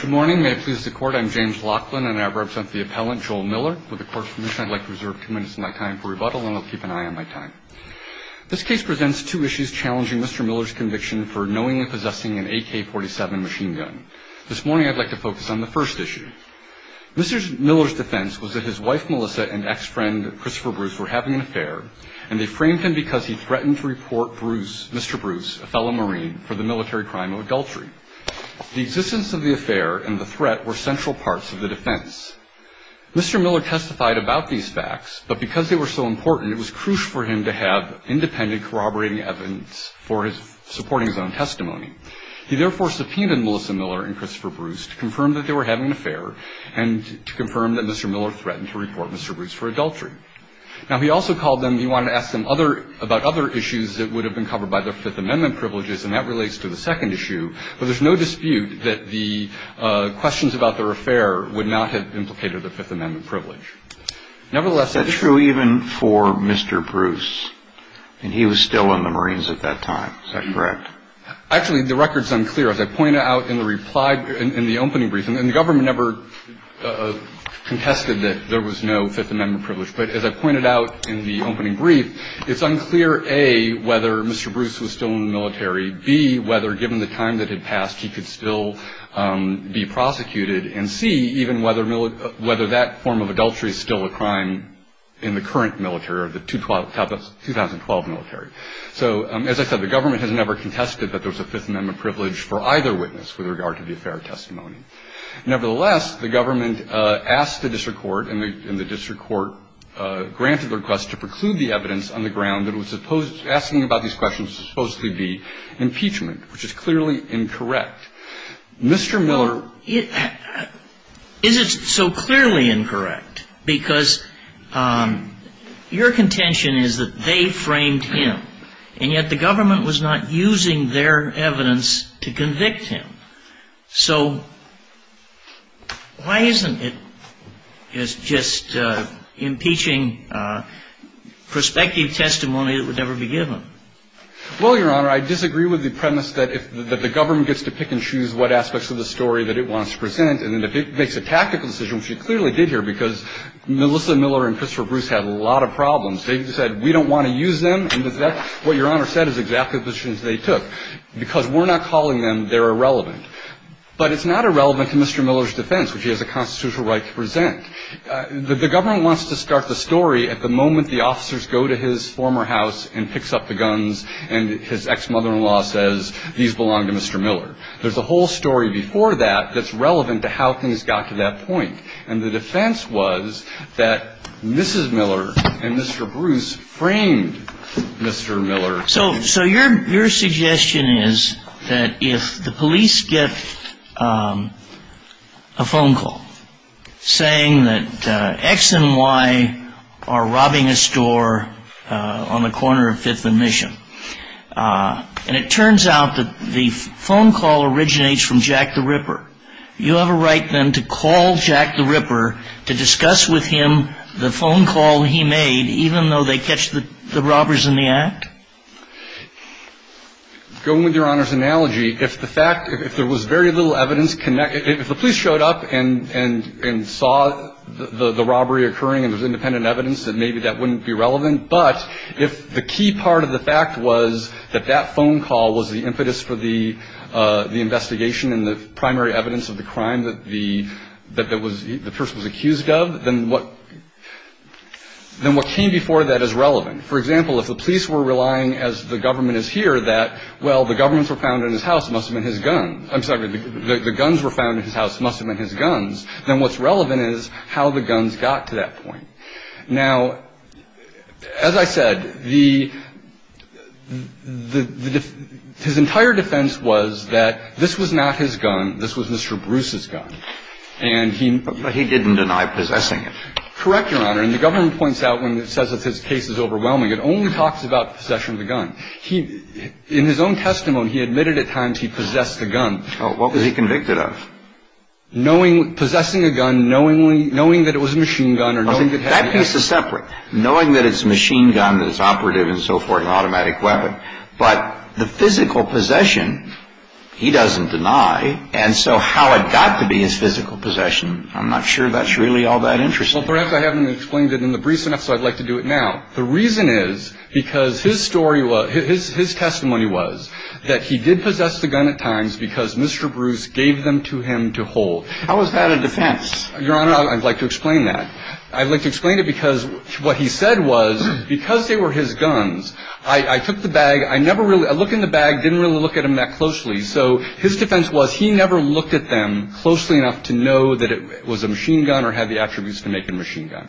Good morning. May it please the Court, I'm James Laughlin and I represent the appellant Joel Miller. With the Court's permission, I'd like to reserve two minutes of my time for rebuttal and I'll keep an eye on my time. This case presents two issues challenging Mr. Miller's conviction for knowingly possessing an AK-47 machine gun. This morning I'd like to focus on the first issue. Mr. Miller's defense was that his wife, Melissa, and ex-friend, Christopher Bruce, were having an affair and they framed him because he threatened to report Mr. Bruce, a fellow Marine, for the military crime of adultery. The existence of the affair and the threat were central parts of the defense. Mr. Miller testified about these facts, but because they were so important, it was crucial for him to have independent corroborating evidence for supporting his own testimony. He therefore subpoenaed Melissa Miller and Christopher Bruce to confirm that they were having an affair and to confirm that Mr. Miller threatened to report Mr. Bruce for adultery. Now, he also called them, he wanted to ask them other, about other issues that would have been covered by their Fifth Amendment privileges, and that relates to the second issue, but there's no dispute that the questions about their affair would not have implicated a Fifth Amendment privilege. Nevertheless... That's true even for Mr. Bruce, and he was still in the Marines at that time. Is that correct? Actually, the record's unclear. As I pointed out in the reply, in the opening brief, and the government never contested that there was no Fifth Amendment privilege, but as I pointed out in the opening brief, it's unclear, A, whether Mr. Bruce was still in the military, B, whether, given the time that had passed, he could still be prosecuted, and C, even whether that form of adultery is still a crime in the current military or the 2012 military. So, as I said, the government has never contested that there was a Fifth Amendment privilege for either witness with regard to the affair testimony. Nevertheless, the government asked the district court, and the district court granted the request to preclude the evidence on the ground that it was supposed, asking about these questions would supposedly be impeachment, which is clearly incorrect. Mr. Miller... And yet the government was not using their evidence to convict him. So why isn't it just impeaching prospective testimony that would never be given? Well, Your Honor, I disagree with the premise that if the government gets to pick and choose what aspects of the story that it wants to present, and if it makes a tactical decision, which it clearly did here, because Melissa Miller and Christopher Bruce had a lot of problems. They said, we don't want to use them, and that's what Your Honor said is exactly the decisions they took. Because we're not calling them, they're irrelevant. But it's not irrelevant to Mr. Miller's defense, which he has a constitutional right to present. The government wants to start the story at the moment the officers go to his former house and picks up the guns, and his ex-mother-in-law says, these belong to Mr. Miller. There's a whole story before that that's relevant to how things got to that point. And the defense was that Mrs. Miller and Mr. Bruce framed Mr. Miller. So your suggestion is that if the police get a phone call saying that X and Y are robbing a store on the corner of Fifth and Mission, and it turns out that the phone call originates from Jack the Ripper, you have a right then to call Jack the Ripper to discuss with him the phone call he made, even though they catch the robbers in the act? Going with Your Honor's analogy, if the fact, if there was very little evidence, if the police showed up and saw the robbery occurring and there was independent evidence, then maybe that wouldn't be relevant. But if the key part of the fact was that that phone call was the impetus for the investigation and the primary evidence of the crime that the person was accused of, then what came before that is relevant. For example, if the police were relying, as the government is here, that, well, the guns were found in his house, it must have been his guns, then what's relevant is how the guns got to that point. Now, as I said, the – his entire defense was that this was not his gun, this was Mr. Bruce's gun. And he – But he didn't deny possessing it. Correct, Your Honor. And the government points out when it says that his case is overwhelming, it only talks about possession of the gun. He – in his own testimony, he admitted at times he possessed a gun. What was he convicted of? Knowing – possessing a gun, knowing that it was a machine gun or knowing that – That piece is separate. Knowing that it's a machine gun, that it's operative and so forth, an automatic weapon. But the physical possession, he doesn't deny. And so how it got to be his physical possession, I'm not sure that's really all that interesting. Well, perhaps I haven't explained it in the briefs enough, so I'd like to do it now. The reason is because his story was – his testimony was that he did possess the gun at times because Mr. Bruce gave them to him to hold. How is that a defense? Your Honor, I'd like to explain that. I'd like to explain it because what he said was because they were his guns, I took the bag, I never really – I looked in the bag, didn't really look at them that closely. So his defense was he never looked at them closely enough to know that it was a machine gun or had the attributes to make a machine gun.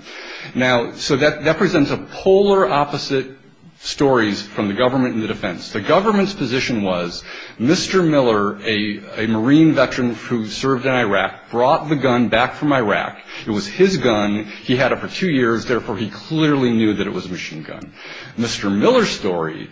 Now, so that presents a polar opposite stories from the government in the defense. The government's position was Mr. Miller, a Marine veteran who served in Iraq, brought the gun back from Iraq. It was his gun. He had it for two years. Therefore, he clearly knew that it was a machine gun. Mr. Miller's story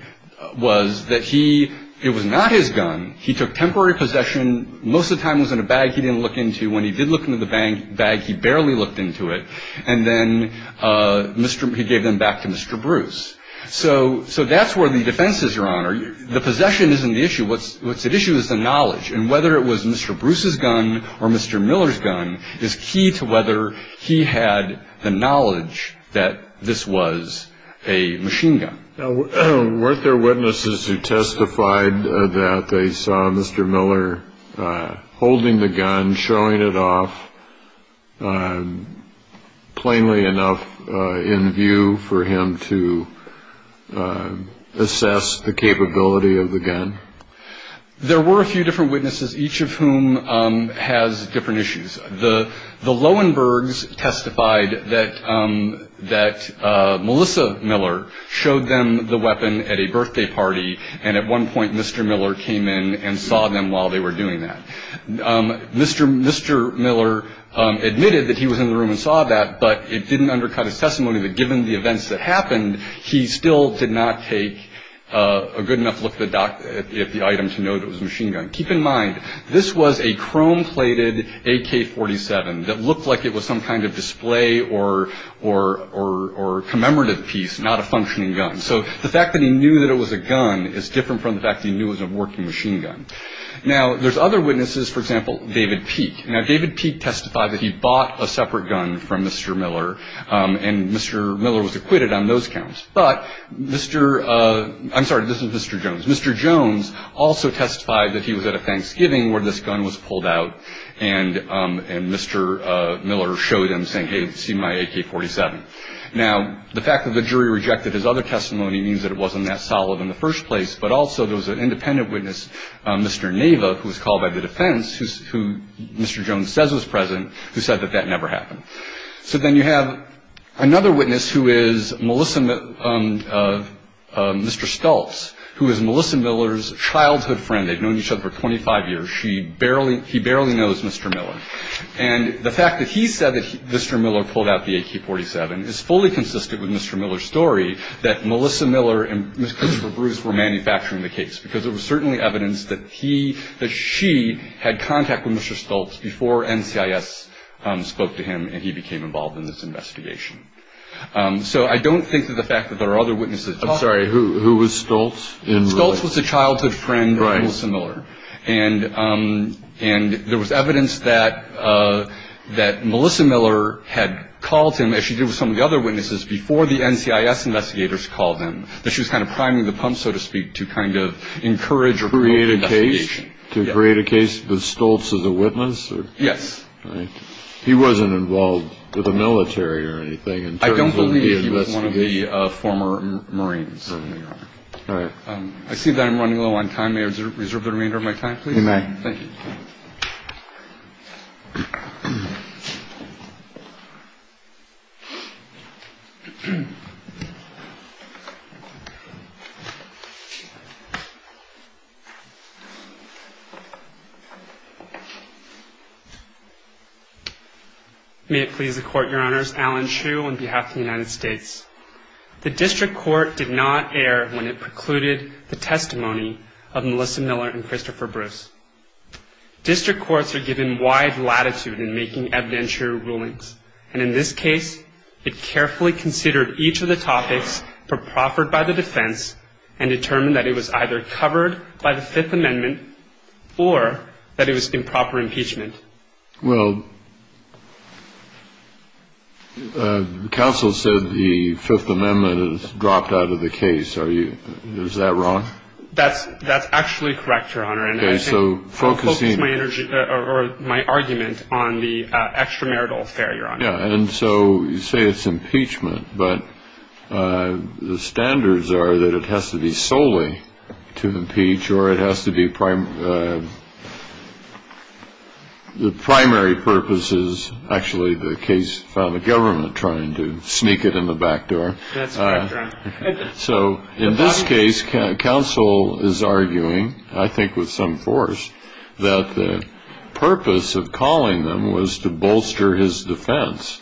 was that he – it was not his gun. He took temporary possession. Most of the time it was in a bag he didn't look into. When he did look into the bag, he barely looked into it. And then Mr. – he gave them back to Mr. Bruce. So that's where the defense is, Your Honor. The possession isn't the issue. What's at issue is the knowledge. And whether it was Mr. Bruce's gun or Mr. Miller's gun is key to whether he had the knowledge that this was a machine gun. Now, weren't there witnesses who testified that they saw Mr. Miller holding the gun, showing it off plainly enough in view for him to assess the capability of the gun? There were a few different witnesses, each of whom has different issues. The Lowenbergs testified that Melissa Miller showed them the weapon at a birthday party, and at one point Mr. Miller came in and saw them while they were doing that. Mr. Miller admitted that he was in the room and saw that, but it didn't undercut his testimony that given the events that happened, he still did not take a good enough look at the item to know that it was a machine gun. Keep in mind, this was a chrome-plated AK-47 that looked like it was some kind of display or commemorative piece, not a functioning gun. So the fact that he knew that it was a gun is different from the fact that he knew it was a working machine gun. Now, there's other witnesses, for example, David Peake. Now, David Peake testified that he bought a separate gun from Mr. Miller, and Mr. Miller was acquitted on those counts. But Mr. – I'm sorry, this is Mr. Jones. Mr. Jones also testified that he was at a Thanksgiving where this gun was pulled out, and Mr. Miller showed him, saying, hey, see my AK-47. Now, the fact that the jury rejected his other testimony means that it wasn't that solid in the first place, but also there was an independent witness, Mr. Nava, who was called by the defense, who Mr. Jones says was present, who said that that never happened. So then you have another witness, who is Melissa – Mr. Stultz, who is Melissa Miller's childhood friend. They've known each other for 25 years. She barely – he barely knows Mr. Miller. And the fact that he said that Mr. Miller pulled out the AK-47 is fully consistent with Mr. Miller's story that Melissa Miller and Ms. Christopher Bruce were manufacturing the case, because it was certainly evidence that he – that she had contact with Mr. Stultz before NCIS spoke to him and he became involved in this investigation. So I don't think that the fact that there are other witnesses – I'm sorry, who was Stultz? Stultz was a childhood friend of Melissa Miller. And there was evidence that Melissa Miller had called him, as she did with some of the other witnesses before the NCIS investigators called him, that she was kind of priming the pump, so to speak, to kind of encourage or promote investigation. To create a case? To create a case that Stultz is a witness? Yes. All right. He wasn't involved with the military or anything in terms of – I don't believe he was one of the former Marines. All right. I see that I'm running low on time. May I reserve the remainder of my time, please? You may. Thank you. May it please the Court, Your Honors. Alan Hsu on behalf of the United States. The district court did not err when it precluded the testimony of Melissa Miller and Christopher Bruce. District courts are given wide latitude in making evidentiary rulings. And in this case, it carefully considered each of the topics for proffered by the defense and determined that it was either covered by the Fifth Amendment or that it was improper impeachment. Well, counsel said the Fifth Amendment is dropped out of the case. Is that wrong? That's actually correct, Your Honor. Okay. So focusing – I'll focus my argument on the extramarital affair, Your Honor. Yeah. And so you say it's impeachment. But the standards are that it has to be solely to impeach or it has to be – the primary purpose is actually the case found the government trying to sneak it in the back door. That's correct, Your Honor. So in this case, counsel is arguing, I think with some force, that the purpose of calling them was to bolster his defense,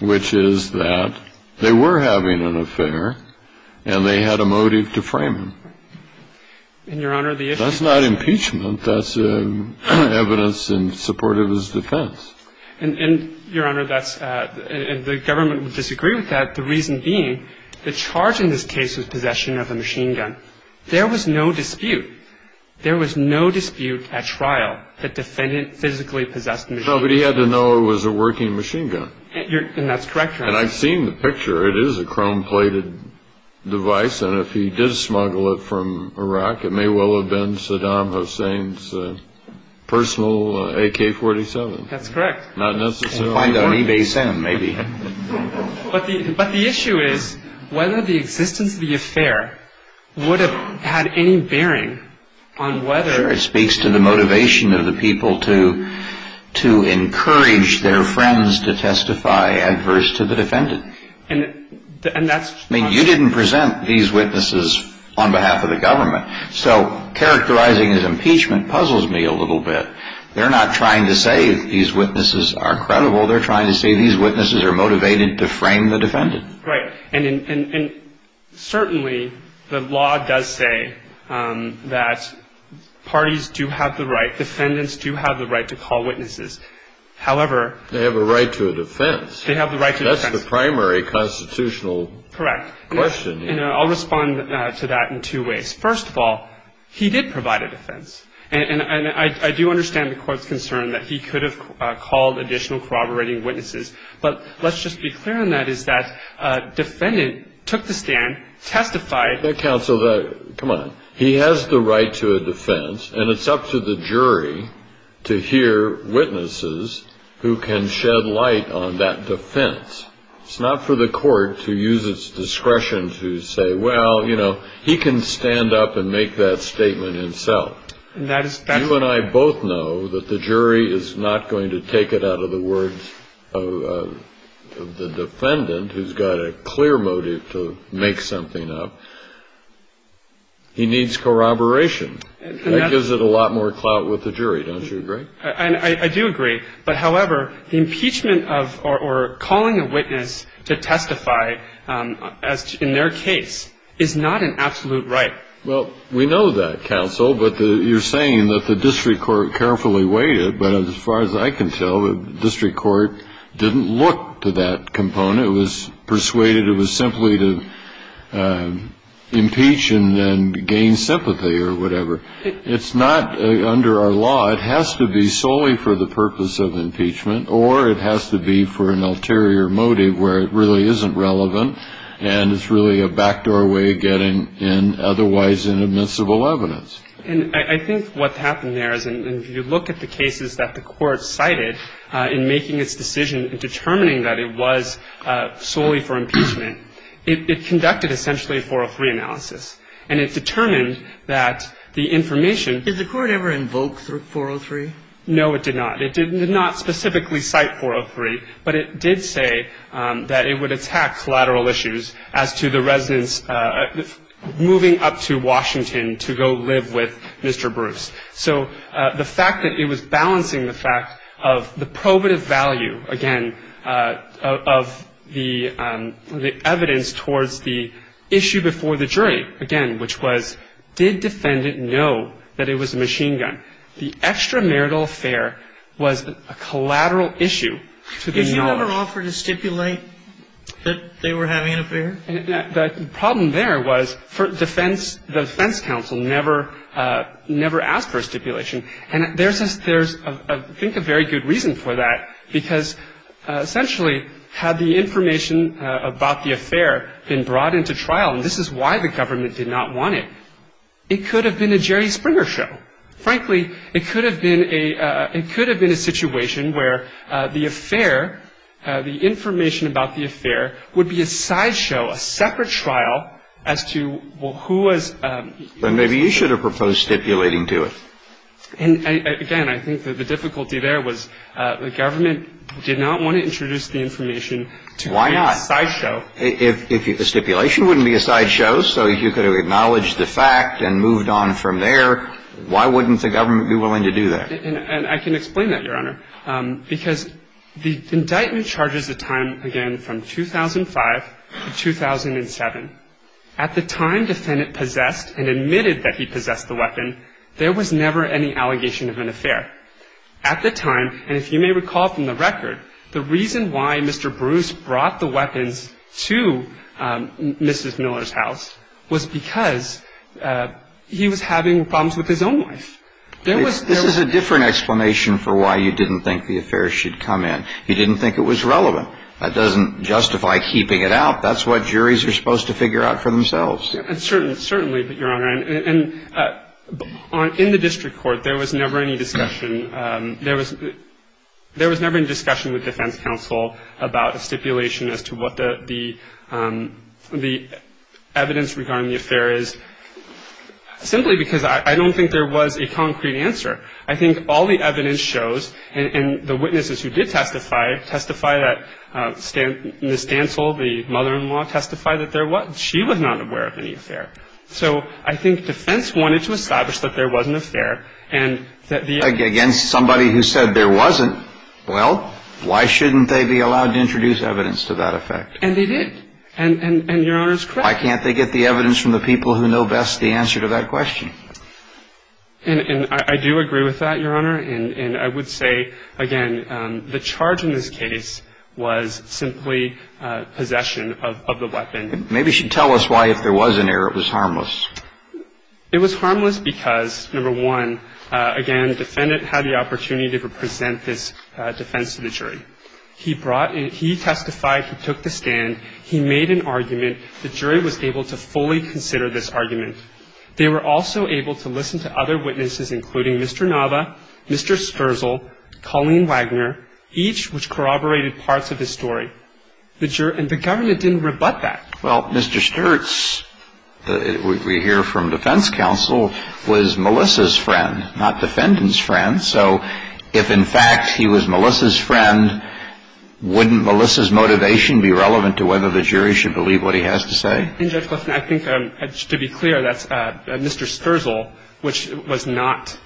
which is that they were having an affair and they had a motive to frame him. And, Your Honor, the issue – That's not impeachment. That's evidence in support of his defense. And, Your Honor, that's – and the government would disagree with that, the reason being the charge in this case was possession of a machine gun. There was no dispute. There was no dispute at trial that the defendant physically possessed a machine gun. No, but he had to know it was a working machine gun. And that's correct, Your Honor. And I've seen the picture. It is a chrome-plated device. And if he did smuggle it from Iraq, it may well have been Saddam Hussein's personal AK-47. That's correct. Not necessarily. Find it on eBay Sam, maybe. But the issue is whether the existence of the affair would have had any bearing on whether – Sure. It speaks to the motivation of the people to encourage their friends to testify adverse to the defendant. And that's – I mean, you didn't present these witnesses on behalf of the government. So characterizing as impeachment puzzles me a little bit. They're not trying to say these witnesses are credible. They're trying to say these witnesses are motivated to frame the defendant. Right. And certainly the law does say that parties do have the right – defendants do have the right to call witnesses. However – They have a right to a defense. They have the right to a defense. That's the primary constitutional question. Correct. And I'll respond to that in two ways. First of all, he did provide a defense. And I do understand the court's concern that he could have called additional corroborating witnesses. But let's just be clear on that, is that defendant took the stand, testified – Counsel, come on. He has the right to a defense, and it's up to the jury to hear witnesses who can shed light on that defense. It's not for the court to use its discretion to say, well, you know, he can stand up and make that statement himself. You and I both know that the jury is not going to take it out of the words of the defendant, who's got a clear motive to make something up. He needs corroboration. That gives it a lot more clout with the jury. Don't you agree? I do agree. But, however, the impeachment of or calling a witness to testify in their case is not an absolute right. Well, we know that, Counsel. But you're saying that the district court carefully waited. But as far as I can tell, the district court didn't look to that component. It was persuaded it was simply to impeach and then gain sympathy or whatever. It's not under our law. It has to be solely for the purpose of impeachment, or it has to be for an ulterior motive where it really isn't relevant and it's really a backdoor way of getting in otherwise inadmissible evidence. And I think what happened there is if you look at the cases that the court cited in making its decision and determining that it was solely for impeachment, it conducted essentially a 403 analysis. And it determined that the information ---- No, it did not. It did not specifically cite 403. But it did say that it would attack collateral issues as to the residents moving up to Washington to go live with Mr. Bruce. So the fact that it was balancing the fact of the probative value, again, of the evidence towards the issue before the jury, again, which was did defendant know that it was a machine gun? The extra marital affair was a collateral issue to be known. Did you ever offer to stipulate that they were having an affair? The problem there was the defense counsel never asked for a stipulation. And there's, I think, a very good reason for that because essentially had the information about the affair been brought into trial and this is why the government did not want it, it could have been a Jerry Springer show. Frankly, it could have been a situation where the affair, the information about the affair, would be a sideshow, a separate trial as to who was ---- Then maybe you should have proposed stipulating to it. And again, I think that the difficulty there was the government did not want to introduce the information to be a sideshow. Why not? If the stipulation wouldn't be a sideshow, so you could have acknowledged the fact and moved on from there, why wouldn't the government be willing to do that? And I can explain that, Your Honor, because the indictment charges the time, again, from 2005 to 2007. At the time defendant possessed and admitted that he possessed the weapon, there was never any allegation of an affair. At the time, and if you may recall from the record, the reason why Mr. Bruce brought the weapons to Mrs. Miller's house was because he was having problems with his own wife. There was ---- This is a different explanation for why you didn't think the affair should come in. You didn't think it was relevant. That doesn't justify keeping it out. That's what juries are supposed to figure out for themselves. Certainly, Your Honor. And in the district court, there was never any discussion. There was never any discussion with defense counsel about a stipulation as to what the evidence regarding the affair is, simply because I don't think there was a concrete answer. I think all the evidence shows, and the witnesses who did testify, testify that Ms. Stansel, the mother-in-law, testified that there was. She was not aware of any affair. So I think defense wanted to establish that there was an affair and that the ---- Against somebody who said there wasn't. Well, why shouldn't they be allowed to introduce evidence to that effect? And they did. And Your Honor is correct. Why can't they get the evidence from the people who know best the answer to that question? And I do agree with that, Your Honor. And I would say, again, the charge in this case was simply possession of the weapon. Maybe you should tell us why, if there was an error, it was harmless. It was harmless because, number one, again, the defendant had the opportunity to present this defense to the jury. He brought in ---- he testified, he took the stand, he made an argument. The jury was able to fully consider this argument. They were also able to listen to other witnesses, including Mr. Nava, Mr. Stersl, Colleen Wagner, each which corroborated parts of his story. And the government didn't rebut that. Well, Mr. Sturtz, we hear from defense counsel, was Melissa's friend, not defendant's friend. So if, in fact, he was Melissa's friend, wouldn't Melissa's motivation be relevant to whether the jury should believe what he has to say? I think, to be clear, that's Mr. Stersl, which was not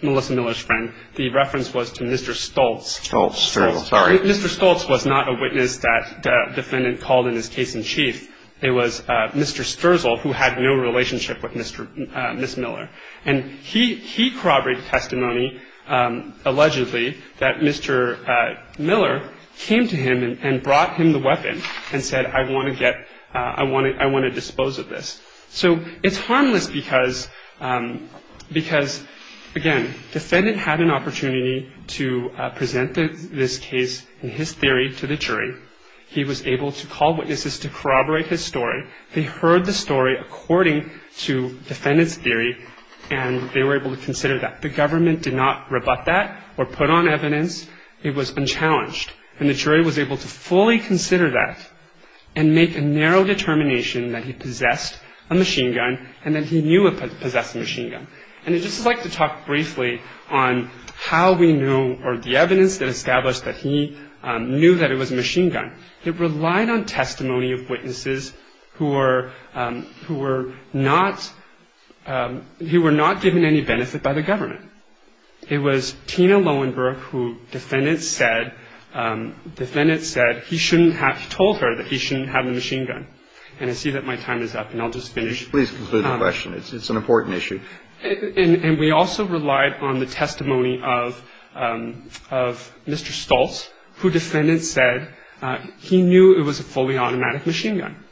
Melissa Miller's friend. The reference was to Mr. Stoltz. Stoltz, sorry. Mr. Stoltz was not a witness that the defendant called in his case in chief. It was Mr. Stersl who had no relationship with Ms. Miller. And he corroborated testimony, allegedly, that Mr. Miller came to him and brought him the weapon and said, I want to get ---- I want to dispose of this. So it's harmless because, again, defendant had an opportunity to present this case in his theory to the jury. He was able to call witnesses to corroborate his story. They heard the story according to defendant's theory, and they were able to consider that. The government did not rebut that or put on evidence. It was unchallenged. And the jury was able to fully consider that and make a narrow determination that he possessed a machine gun and that he knew he possessed a machine gun. And I'd just like to talk briefly on how we knew or the evidence that established that he knew that it was a machine gun. It relied on testimony of witnesses who were not given any benefit by the government. It was Tina Lowenberg who defendant said he shouldn't have told her that he shouldn't have the machine gun. And I see that my time is up, and I'll just finish. Please conclude the question. It's an important issue. And we also relied on the testimony of Mr. Stoltz, who defendant said he knew it was a fully automatic machine gun.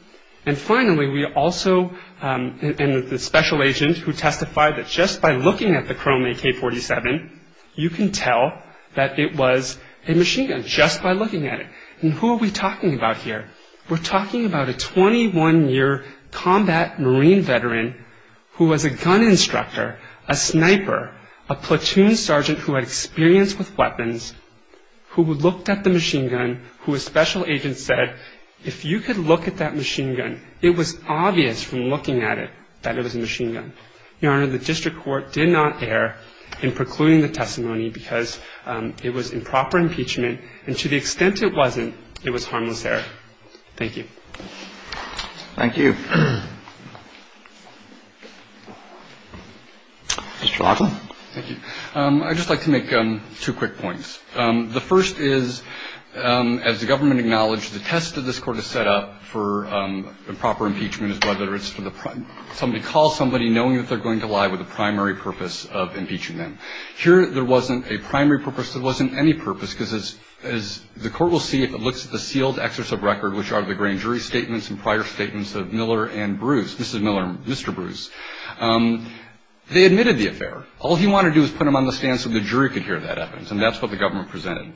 And finally, we also, and the special agent who testified that just by looking at the Chrome AK-47, you can tell that it was a machine gun just by looking at it. And who are we talking about here? We're talking about a 21-year combat Marine veteran who was a gun instructor, a sniper, a platoon sergeant who had experience with weapons, who looked at the machine gun, who a special agent said, if you could look at that machine gun, it was obvious from looking at it that it was a machine gun. Your Honor, the district court did not err in precluding the testimony because it was improper impeachment, and to the extent it wasn't, it was harmless error. Thank you. Thank you. Mr. Larkin. Thank you. I'd just like to make two quick points. The first is, as the government acknowledged, the test that this Court has set up for improper impeachment is whether it's for somebody to call somebody knowing that they're going to lie with the primary purpose of impeaching them. Here, there wasn't a primary purpose. There wasn't any purpose because, as the Court will see if it looks at the sealed excerpts of record, which are the grand jury statements and prior statements of Miller and Bruce, Mrs. Miller and Mr. Bruce, they admitted the affair. All he wanted to do was put them on the stand so the jury could hear that evidence, and that's what the government presented,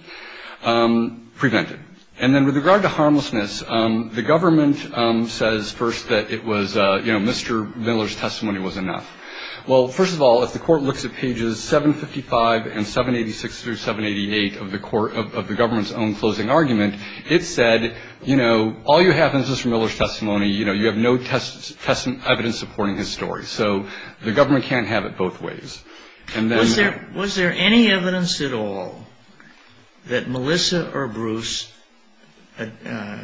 prevented. And then with regard to harmlessness, the government says first that it was, you know, Mr. Miller's testimony was enough. Well, first of all, if the Court looks at pages 755 and 786 through 788 of the government's own closing argument, it said, you know, all you have in Mr. Miller's testimony, you know, you have no evidence supporting his story. So the government can't have it both ways. Was there any evidence at all that Melissa or Bruce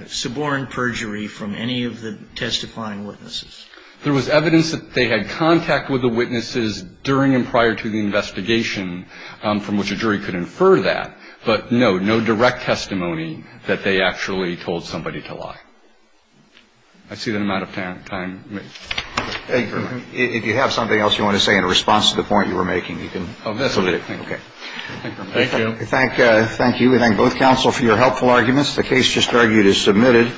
suborned perjury from any of the testifying witnesses? There was evidence that they had contact with the witnesses during and prior to the investigation from which a jury could infer that. But, no, no direct testimony that they actually told somebody to lie. I see that I'm out of time. If you have something else you want to say in response to the point you were making, you can submit it. Thank you. Thank you. We thank both counsel for your helpful arguments. The case just argued is submitted.